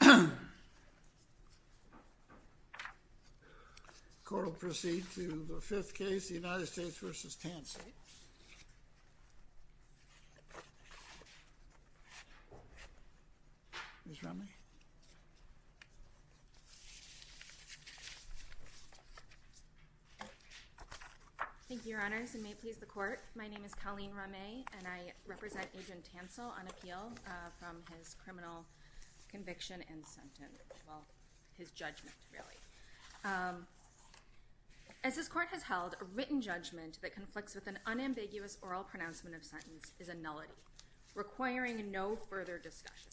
Thank you, Your Honors, and may it please the Court, my name is Colleen Rameh and I am a lawyer and I'm going to be talking about the criminal conviction and sentence, well his judgment really. As this Court has held, a written judgment that conflicts with an unambiguous oral pronouncement of sentence is a nullity, requiring no further discussion.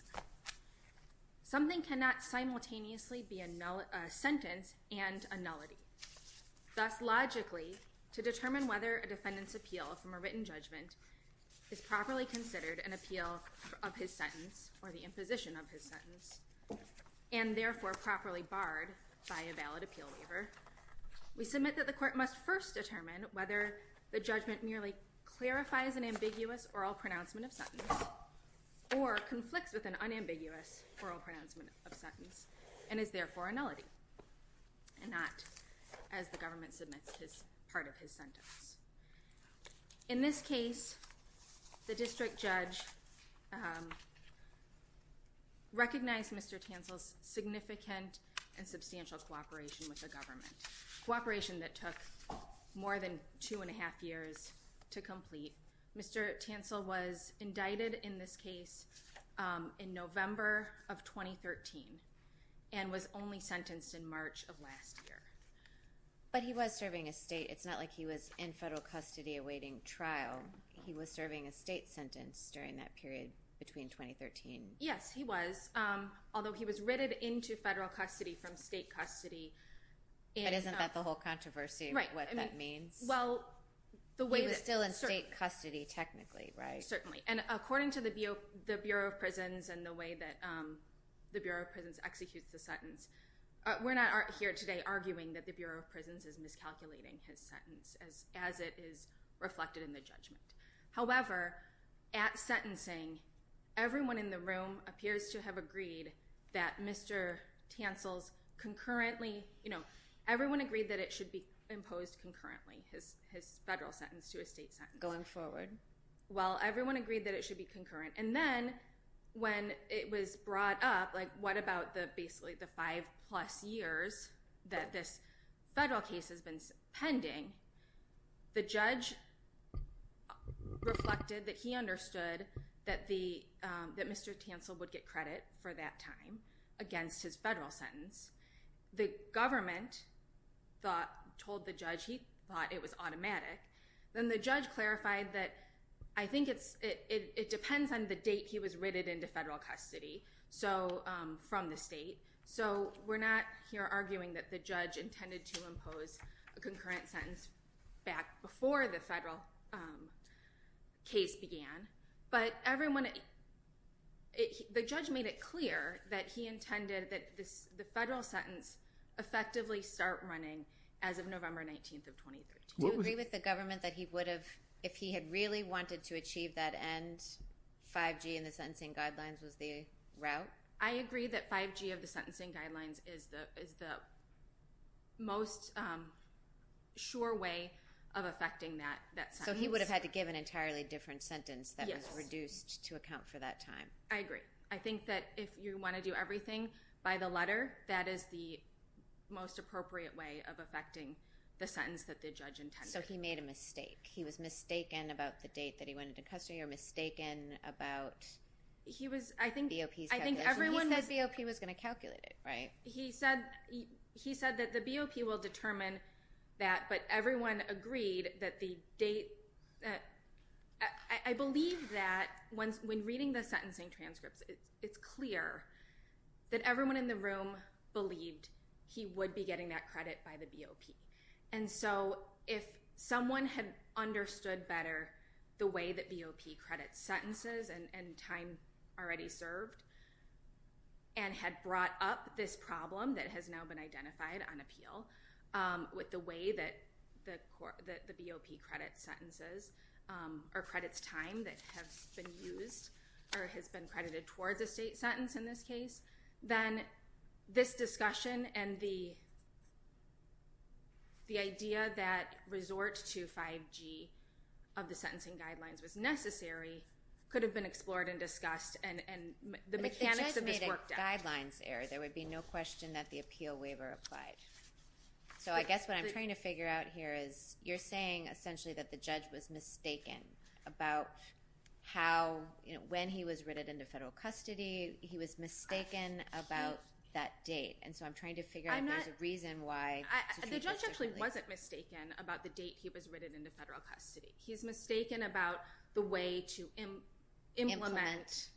Something cannot simultaneously be a sentence and a nullity. Thus, logically, to determine whether a defendant's appeal from a written judgment is properly considered an appeal of his sentence, or the imposition of his sentence, and therefore properly barred by a valid appeal waiver, we submit that the Court must first determine whether the judgment merely clarifies an ambiguous oral pronouncement of sentence, or conflicts with an unambiguous oral pronouncement of sentence, and is therefore a nullity, and not as the government submits part of his sentence. In this case, the district judge recognized Mr. Tancil's significant and substantial cooperation with the government, cooperation that took more than two and a half years to complete. Mr. Tancil was indicted in this case in November of 2013, and was only sentenced in March of last year. But he was serving a state, it's not like he was in federal custody awaiting trial, he was serving a state sentence during that period between 2013. Yes, he was, although he was writted into federal custody from state custody. But isn't that the whole controversy of what that means? He was still in state custody technically, right? Certainly, and according to the Bureau of Prisons and the way that the Bureau of Prisons executes the sentence, we're not here today arguing that the Bureau of Prisons is miscalculating his sentence as it is reflected in the judgment. However, at sentencing, everyone in the room appears to have agreed that Mr. Tancil's concurrently, you know, everyone agreed that it should be imposed concurrently, his federal sentence to a state sentence. Going forward. Well, everyone agreed that it should be concurrent. And then when it was brought up, like what about the basically the five plus years that this federal case has been pending, the judge reflected that he understood that Mr. Tancil would get credit for that time against his federal sentence. The government told the judge he thought it was automatic. Then the judge clarified that I think it depends on the date he was written into federal custody from the state. So we're not here arguing that the judge intended to impose a concurrent sentence back before the federal case began. But everyone, the judge made it clear that he intended that the federal sentence effectively start running as of November 19th of 2013. Do you agree with the government that he would have, if he had really wanted to achieve that end, 5G in the sentencing guidelines was the route? I agree that 5G of the sentencing guidelines is the most sure way of affecting that sentence. So he would have had to give an entirely different sentence that was reduced to account for that time. I agree. I think that if you want to do everything by the letter, that is the most appropriate way of affecting the sentence that the judge intended. So he made a mistake. He was mistaken about the date that he went into custody or mistaken about BOP's calculation. He said BOP was going to calculate it, right? He said that the BOP will determine that. But everyone agreed that the date, I believe that when reading the sentencing transcripts, it's clear that everyone in the room believed he would be getting that credit by the BOP. And so if someone had understood better the way that BOP credits sentences and time already served, and had brought up this problem that has now been identified on appeal with the way that the BOP credits sentences or credits time that has been used or has been credited towards a state sentence in this case, then this discussion and the idea that resort to 5G of the sentencing guidelines was necessary could have been explored and discussed. But the judge made a guidelines error. There would be no question that the appeal waiver applied. So I guess what I'm trying to figure out here is you're saying essentially that the judge was mistaken about when he was written into federal custody. He was mistaken about that date. And so I'm trying to figure out if there's a reason why. The judge actually wasn't mistaken about the date he was written into federal custody. He's mistaken about the way to implement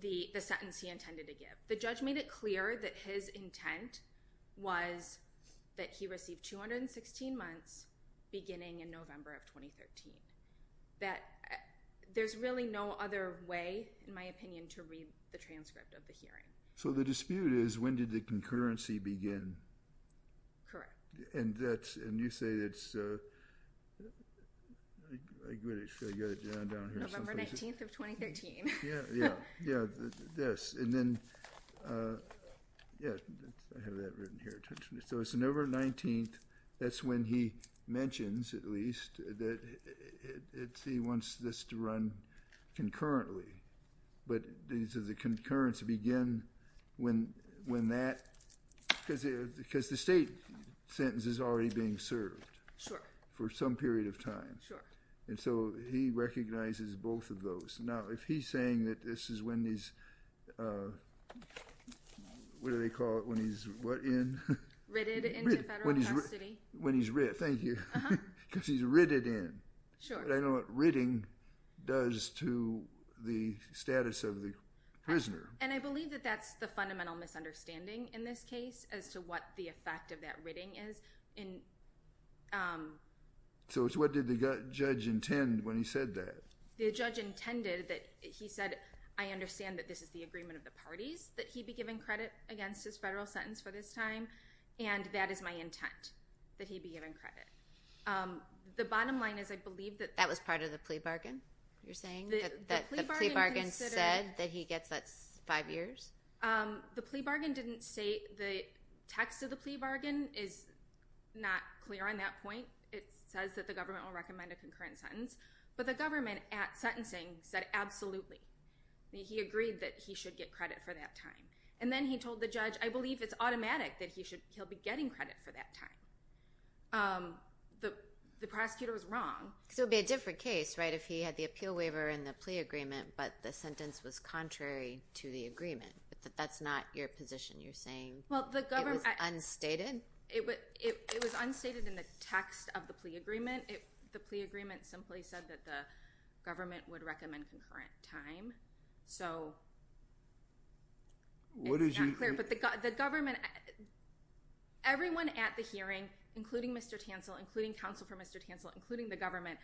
the sentence he intended to give. The judge made it clear that his intent was that he received 216 months beginning in November of 2013. There's really no other way, in my opinion, to read the transcript of the hearing. So the dispute is when did the concurrency begin? Correct. And you say it's November 19th of 2013. Yeah, yeah, yes. And then, yeah, I have that written here. So it's November 19th. That's when he mentions, at least, that he wants this to run concurrently. But does the concurrence begin when that? Because the state sentence is already being served. Sure. For some period of time. Sure. And so he recognizes both of those. Now, if he's saying that this is when he's, what do they call it, when he's what in? Writted into federal custody. When he's writ. Thank you. Because he's writted in. Sure. But I know what writting does to the status of the prisoner. And I believe that that's the fundamental misunderstanding in this case as to what the effect of that writting is. So it's what did the judge intend when he said that? The judge intended that he said, I understand that this is the agreement of the parties, that he be given credit against his federal sentence for this time. And that is my intent, that he be given credit. The bottom line is I believe that. That was part of the plea bargain you're saying? The plea bargain considered. That the plea bargain said that he gets that five years? The plea bargain didn't say, the text of the plea bargain is not clear on that point. It says that the government will recommend a concurrent sentence. But the government at sentencing said absolutely. He agreed that he should get credit for that time. And then he told the judge, I believe it's automatic that he'll be getting credit for that time. The prosecutor was wrong. So it would be a different case, right, if he had the appeal waiver and the plea agreement, but the sentence was contrary to the agreement. But that's not your position. You're saying it was unstated? It was unstated in the text of the plea agreement. The plea agreement simply said that the government would recommend concurrent time. So it's not clear. Everyone at the hearing, including Mr. Tansel, including counsel for Mr. Tansel, including the government,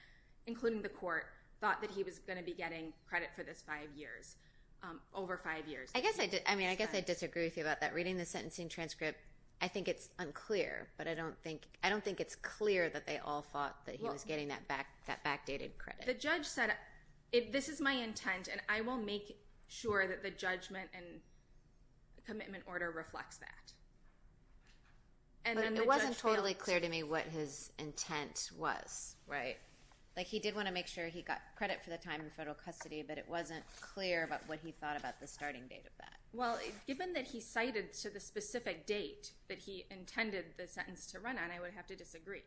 including the court, thought that he was going to be getting credit for this five years, over five years. I guess I disagree with you about that. Reading the sentencing transcript, I think it's unclear. But I don't think it's clear that they all thought that he was getting that backdated credit. The judge said, this is my intent, and I will make sure that the judgment and commitment order reflects that. But it wasn't totally clear to me what his intent was, right? Like he did want to make sure he got credit for the time in federal custody, but it wasn't clear about what he thought about the starting date of that. Well, given that he cited to the specific date that he intended the sentence to run on, I would have to disagree.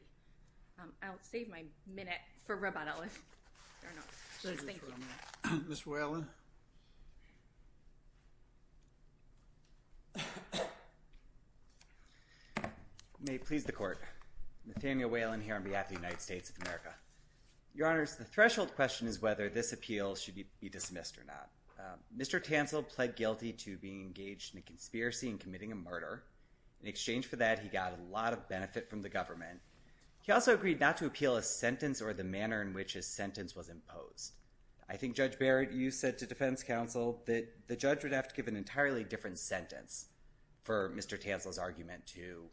I'll save my minute for rebuttal. Ms. Whalen. May it please the court. Nathaniel Whalen here on behalf of the United States of America. Your Honors, the threshold question is whether this appeal should be dismissed or not. Mr. Tansel pled guilty to being engaged in a conspiracy and committing a murder. In exchange for that, he got a lot of benefit from the government. He also agreed not to appeal a sentence or the manner in which his sentence was imposed. I think, Judge Barrett, you said to defense counsel that the judge would have to give an entirely different sentence for Mr. Tansel's argument to prevail.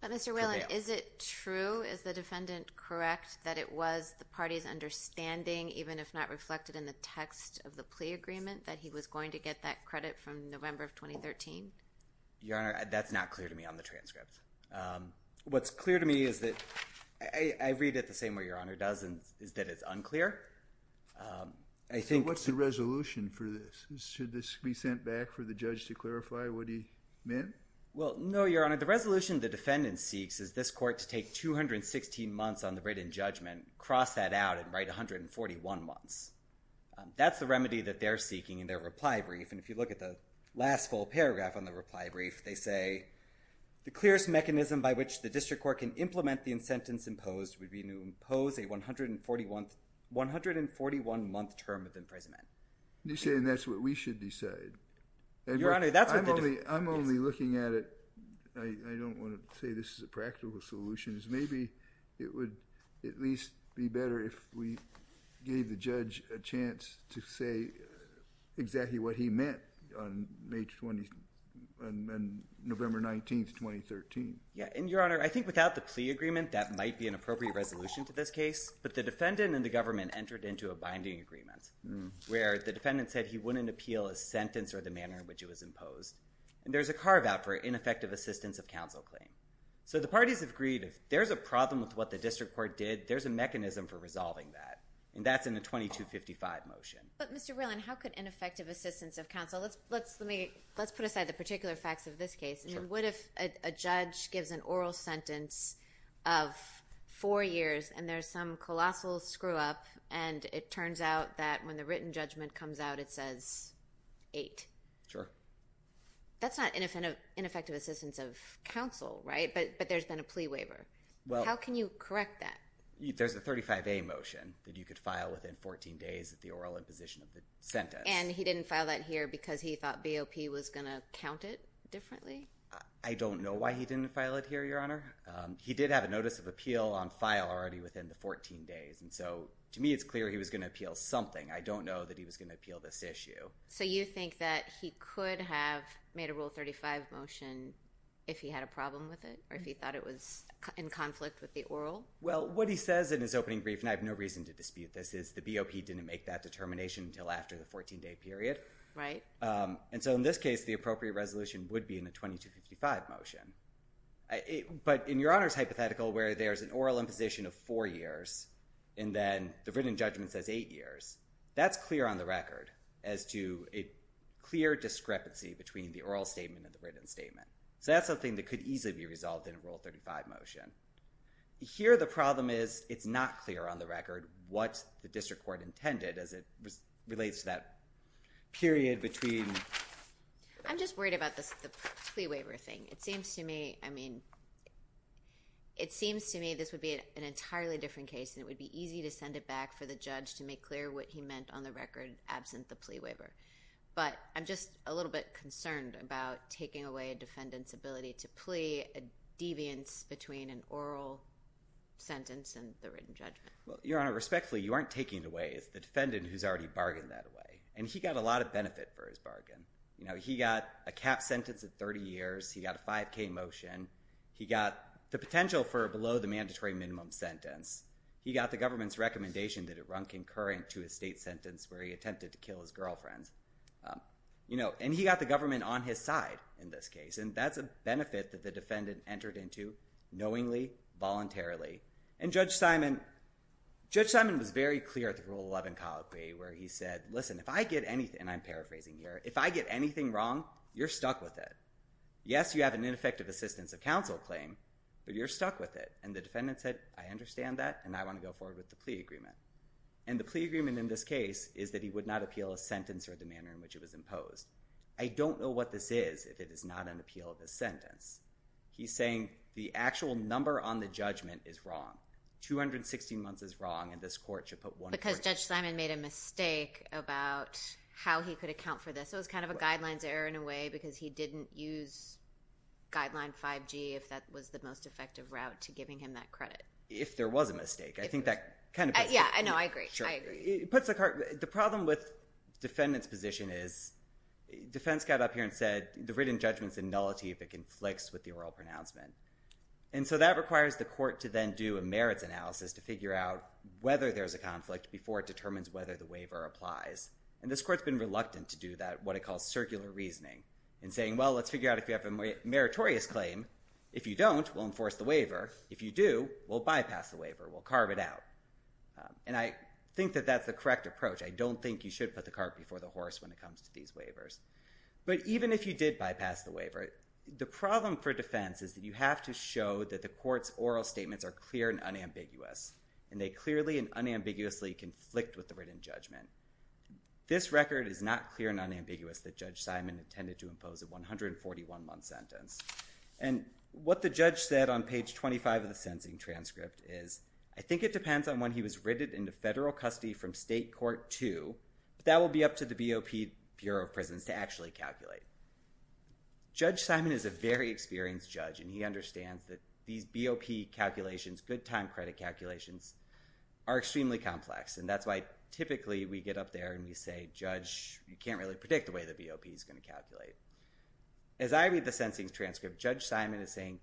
But, Mr. Whalen, is it true, is the defendant correct, that it was the party's understanding, even if not reflected in the text of the plea agreement, that he was going to get that credit from November of 2013? Your Honor, that's not clear to me on the transcript. What's clear to me is that, I read it the same way Your Honor does, is that it's unclear. What's the resolution for this? Should this be sent back for the judge to clarify what he meant? Well, no, Your Honor. The resolution the defendant seeks is this court to take 216 months on the written judgment, cross that out, and write 141 months. That's the remedy that they're seeking in their reply brief. And if you look at the last full paragraph on the reply brief, they say, the clearest mechanism by which the district court can implement the incentives imposed would be to impose a 141-month term of imprisonment. And you're saying that's what we should decide? Your Honor, that's what the district court decides. I'm only looking at it, I don't want to say this is a practical solution. Maybe it would at least be better if we gave the judge a chance to say exactly what he meant on November 19, 2013. Yeah, and Your Honor, I think without the plea agreement, that might be an appropriate resolution to this case. But the defendant and the government entered into a binding agreement where the defendant said he wouldn't appeal a sentence or the manner in which it was imposed. And there's a carve-out for ineffective assistance of counsel claim. So the parties have agreed if there's a problem with what the district court did, there's a mechanism for resolving that. And that's in the 2255 motion. But Mr. Whelan, how could ineffective assistance of counsel? Let's put aside the particular facts of this case. What if a judge gives an oral sentence of four years and there's some colossal screw-up and it turns out that when the written judgment comes out, it says eight? Sure. That's not ineffective assistance of counsel, right? But there's been a plea waiver. How can you correct that? There's a 35A motion that you could file within 14 days of the oral imposition of the sentence. And he didn't file that here because he thought BOP was going to count it differently? I don't know why he didn't file it here, Your Honor. He did have a notice of appeal on file already within the 14 days. And so to me it's clear he was going to appeal something. I don't know that he was going to appeal this issue. So you think that he could have made a Rule 35 motion if he had a problem with it or if he thought it was in conflict with the oral? Well, what he says in his opening brief, and I have no reason to dispute this, is the BOP didn't make that determination until after the 14-day period. Right. And so in this case, the appropriate resolution would be in the 2255 motion. But in Your Honor's hypothetical where there's an oral imposition of four years and then the written judgment says eight years, that's clear on the record as to a clear discrepancy between the oral statement and the written statement. So that's something that could easily be resolved in a Rule 35 motion. Here the problem is it's not clear on the record what the district court intended as it relates to that period between. I'm just worried about the plea waiver thing. It seems to me this would be an entirely different case and it would be easy to send it back for the judge to make clear what he meant on the record absent the plea waiver. But I'm just a little bit concerned about taking away a defendant's ability to plea, a deviance between an oral sentence and the written judgment. Well, Your Honor, respectfully, you aren't taking it away. It's the defendant who's already bargained that away. And he got a lot of benefit for his bargain. He got a cap sentence of 30 years. He got a 5K motion. He got the potential for below the mandatory minimum sentence. He got the government's recommendation that it run concurrent to a state sentence where he attempted to kill his girlfriends. And he got the government on his side in this case, and that's a benefit that the defendant entered into knowingly, voluntarily. And Judge Simon was very clear at the Rule 11 colloquy where he said, listen, if I get anything, and I'm paraphrasing here, if I get anything wrong, you're stuck with it. Yes, you have an ineffective assistance of counsel claim, but you're stuck with it. And the defendant said, I understand that, and I want to go forward with the plea agreement. And the plea agreement in this case is that he would not appeal a sentence or the manner in which it was imposed. I don't know what this is if it is not an appeal of a sentence. He's saying the actual number on the judgment is wrong. 216 months is wrong, and this court should put one point on it. Because Judge Simon made a mistake about how he could account for this. It was kind of a guidelines error in a way because he didn't use guideline 5G if that was the most effective route to giving him that credit. If there was a mistake. Yeah, I know. I agree. I agree. The problem with defendant's position is defense got up here and said, the written judgment's a nullity if it conflicts with the oral pronouncement. And so that requires the court to then do a merits analysis to figure out whether there's a conflict before it determines whether the waiver applies. And this court's been reluctant to do that, what it calls circular reasoning, and saying, well, let's figure out if you have a meritorious claim. If you don't, we'll enforce the waiver. If you do, we'll bypass the waiver. We'll carve it out. And I think that that's the correct approach. I don't think you should put the cart before the horse when it comes to these waivers. But even if you did bypass the waiver, the problem for defense is that you have to show that the court's oral statements are clear and unambiguous, and they clearly and unambiguously conflict with the written judgment. This record is not clear and unambiguous that Judge Simon intended to impose a 141-month sentence. And what the judge said on page 25 of the sentencing transcript is, I think it depends on when he was written into federal custody from state court 2, but that will be up to the BOP Bureau of Prisons to actually calculate. Judge Simon is a very experienced judge, and he understands that these BOP calculations, good time credit calculations, are extremely complex. And that's why typically we get up there and we say, Judge, you can't really predict the way the BOP is going to calculate. As I read the sentencing transcript, Judge Simon is saying,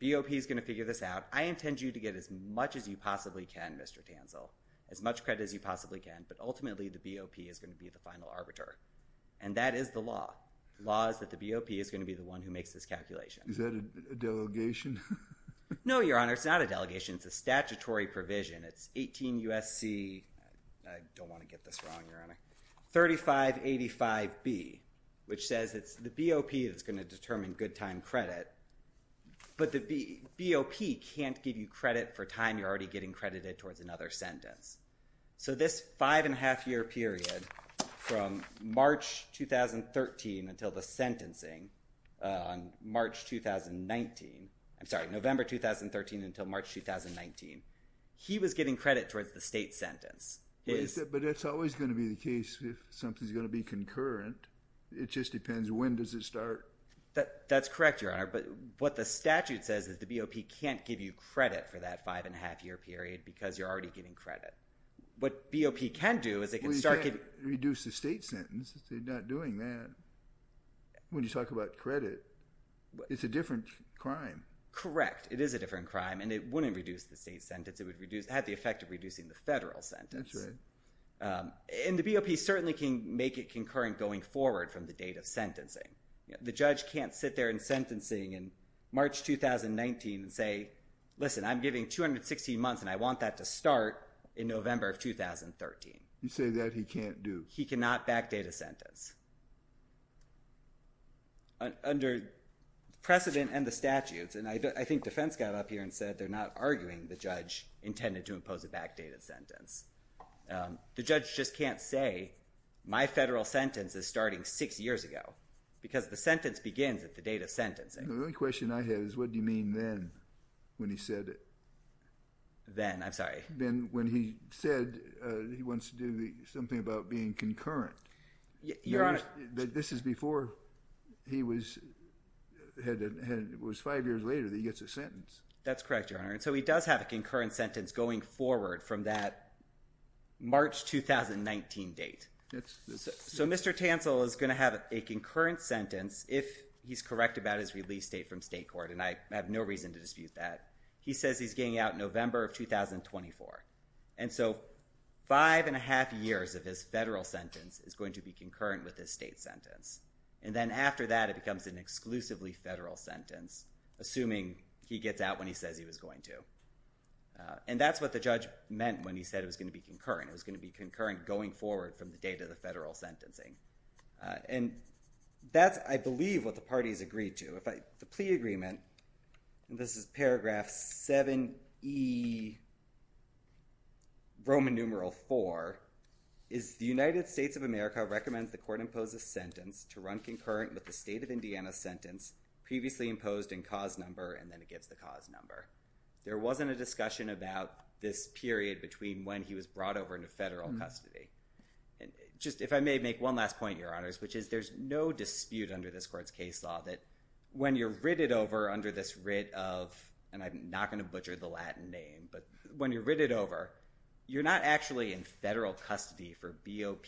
BOP is going to figure this out. I intend you to get as much as you possibly can, Mr. Tanzel, as much credit as you possibly can, but ultimately the BOP is going to be the final arbiter. And that is the law. The law is that the BOP is going to be the one who makes this calculation. Is that a delegation? No, Your Honor, it's not a delegation. It's a statutory provision. It's 18 U.S.C. I don't want to get this wrong, Your Honor, 3585B, which says it's the BOP that's going to determine good time credit, but the BOP can't give you credit for time you're already getting credited towards another sentence. So this five-and-a-half-year period from March 2013 until the sentencing on March 2019, I'm sorry, November 2013 until March 2019, he was getting credit towards the state sentence. But that's always going to be the case if something's going to be concurrent. It just depends when does it start. That's correct, Your Honor, but what the statute says is the BOP can't give you credit for that five-and-a-half-year period because you're already getting credit. What BOP can do is it can start giving – Well, you can't reduce the state sentence. They're not doing that when you talk about credit. It's a different crime. Correct. It is a different crime, and it wouldn't reduce the state sentence. It would have the effect of reducing the federal sentence. That's right. And the BOP certainly can make it concurrent going forward from the date of sentencing. The judge can't sit there in sentencing in March 2019 and say, listen, I'm giving 216 months, and I want that to start in November of 2013. You say that he can't do. He cannot back date a sentence. Under precedent and the statutes, and I think defense got up here and said they're not arguing the judge intended to impose a back date of sentence. The judge just can't say my federal sentence is starting six years ago because the sentence begins at the date of sentencing. The only question I have is what do you mean then when he said it? Then? I'm sorry. Then when he said he wants to do something about being concurrent. Your Honor. This is before he was five years later that he gets a sentence. That's correct, Your Honor. And so he does have a concurrent sentence going forward from that March 2019 date. So Mr. Tansel is going to have a concurrent sentence if he's correct about his release date from state court, and I have no reason to dispute that. He says he's getting out in November of 2024. And so five and a half years of his federal sentence is going to be concurrent with his state sentence. And then after that it becomes an exclusively federal sentence, assuming he gets out when he says he was going to. And that's what the judge meant when he said it was going to be concurrent. It was going to be concurrent going forward from the date of the federal sentencing. And that's, I believe, what the parties agreed to. The plea agreement, and this is paragraph 7E, Roman numeral 4, is the United States of America recommends the court impose a sentence to run concurrent with the state of Indiana sentence previously imposed in cause number, and then it gets the cause number. There wasn't a discussion about this period between when he was brought over into federal custody. Just if I may make one last point, Your Honors, which is there's no dispute under this court's case law that when you're writ it over under this writ of, and I'm not going to butcher the Latin name, but when you're writ it over, you're not actually in federal custody for BOP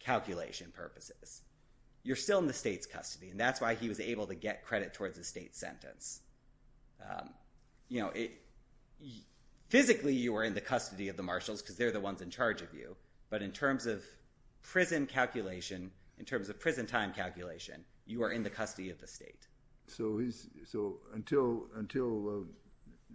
calculation purposes. You're still in the state's custody, and that's why he was able to get credit towards the state sentence. You know, physically you were in the custody of the marshals because they're the ones in charge of you, but in terms of prison calculation, in terms of prison time calculation, you are in the custody of the state. So until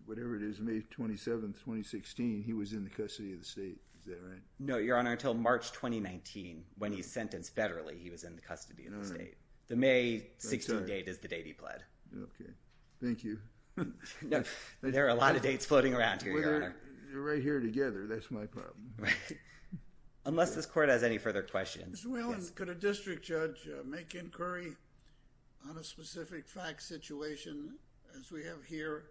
whatever it is, May 27, 2016, he was in the custody of the state. Is that right? No, Your Honor, until March 2019 when he's sentenced federally, he was in the custody of the state. The May 16 date is the date he pled. Okay. Thank you. There are a lot of dates floating around here, Your Honor. They're right here together. That's my problem. Right. Unless this court has any further questions. Mr. Whalen, could a district judge make inquiry on a specific fact situation, as we have here,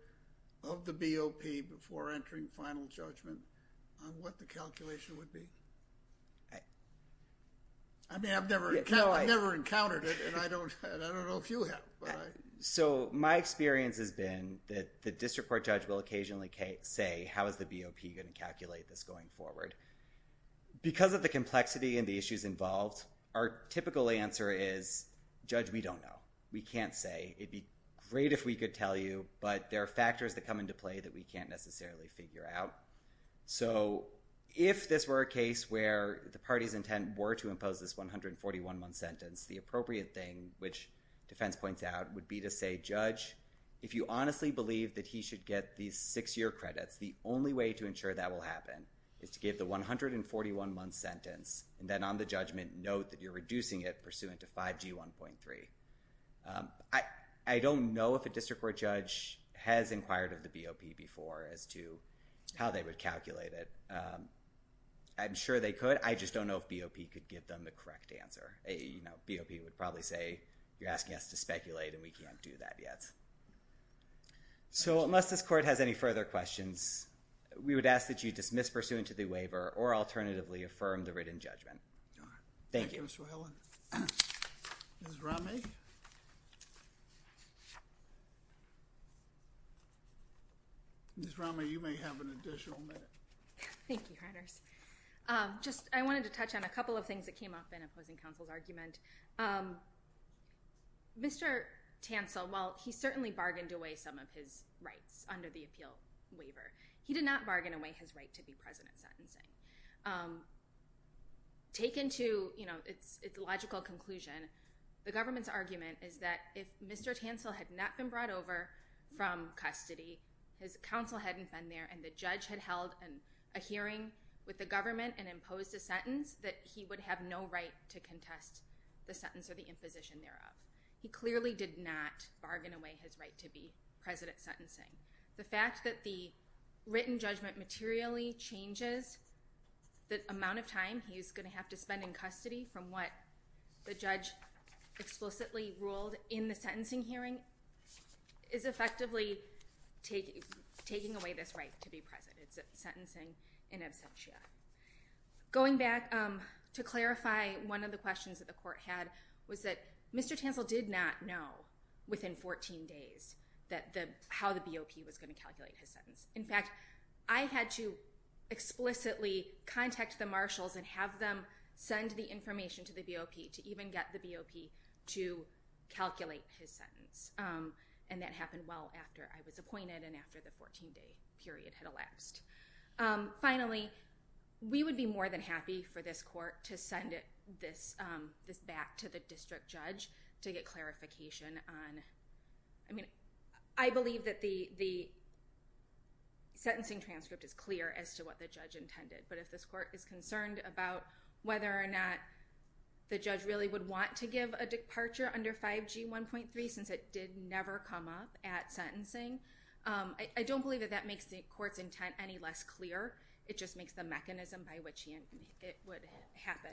of the BOP before entering final judgment on what the calculation would be? I mean, I've never encountered it, and I don't know if you have. So my experience has been that the district court judge will occasionally say, how is the BOP going to calculate this going forward? Because of the complexity and the issues involved, our typical answer is, judge, we don't know. We can't say. It would be great if we could tell you, but there are factors that come into play that we can't necessarily figure out. So if this were a case where the party's intent were to impose this 141-1 sentence, the appropriate thing, which defense points out, would be to say, judge, if you honestly believe that he should get these six-year credits, the only way to ensure that will happen is to give the 141-1 sentence and then on the judgment note that you're reducing it pursuant to 5G1.3. I don't know if a district court judge has inquired of the BOP before as to how they would calculate it. I'm sure they could. I just don't know if BOP could give them the correct answer. You know, BOP would probably say, you're asking us to speculate, and we can't do that yet. So unless this court has any further questions, we would ask that you dismiss pursuant to the waiver or alternatively affirm the written judgment. Thank you. Thank you, Mr. Helland. Ms. Romney? Ms. Romney, you may have an additional minute. Thank you, Reuters. Thank you, Mr. Helland. Mr. Tansel, while he certainly bargained away some of his rights under the appeal waiver, he did not bargain away his right to be president sentencing. Taken to, you know, its logical conclusion, the government's argument is that if Mr. Tansel had not been brought over from custody, his counsel hadn't been there, and the judge had held a hearing with the government and imposed a sentence that he would have no right to contest the sentence or the imposition thereof. He clearly did not bargain away his right to be president sentencing. The fact that the written judgment materially changes the amount of time he's going to have to spend in custody from what the judge explicitly ruled in the sentencing hearing is effectively taking away this right to be president sentencing in absentia. Going back to clarify one of the questions that the court had was that Mr. Tansel did not know within 14 days how the BOP was going to calculate his sentence. In fact, I had to explicitly contact the marshals and have them send the information to the BOP to even get the BOP to calculate his sentence, and that happened well after I was appointed and after the 14-day period had elapsed. Finally, we would be more than happy for this court to send this back to the district judge to get clarification on. I mean, I believe that the sentencing transcript is clear as to what the judge intended, but if this court is concerned about whether or not the judge really would want to give a departure under 5G 1.3 since it did never come up at sentencing, I don't believe that that makes the court's intent any less clear. It just makes the mechanism by which it would happen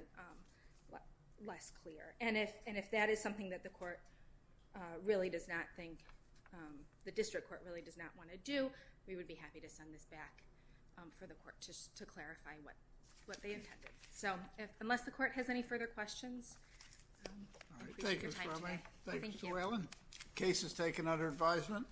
less clear. If that is something that the court really does not think, the district court really does not want to do, we would be happy to send this back for the court to clarify what they intended. Unless the court has any further questions, I appreciate your time today. Thank you, Mr. Allen. The case is taken under advisement.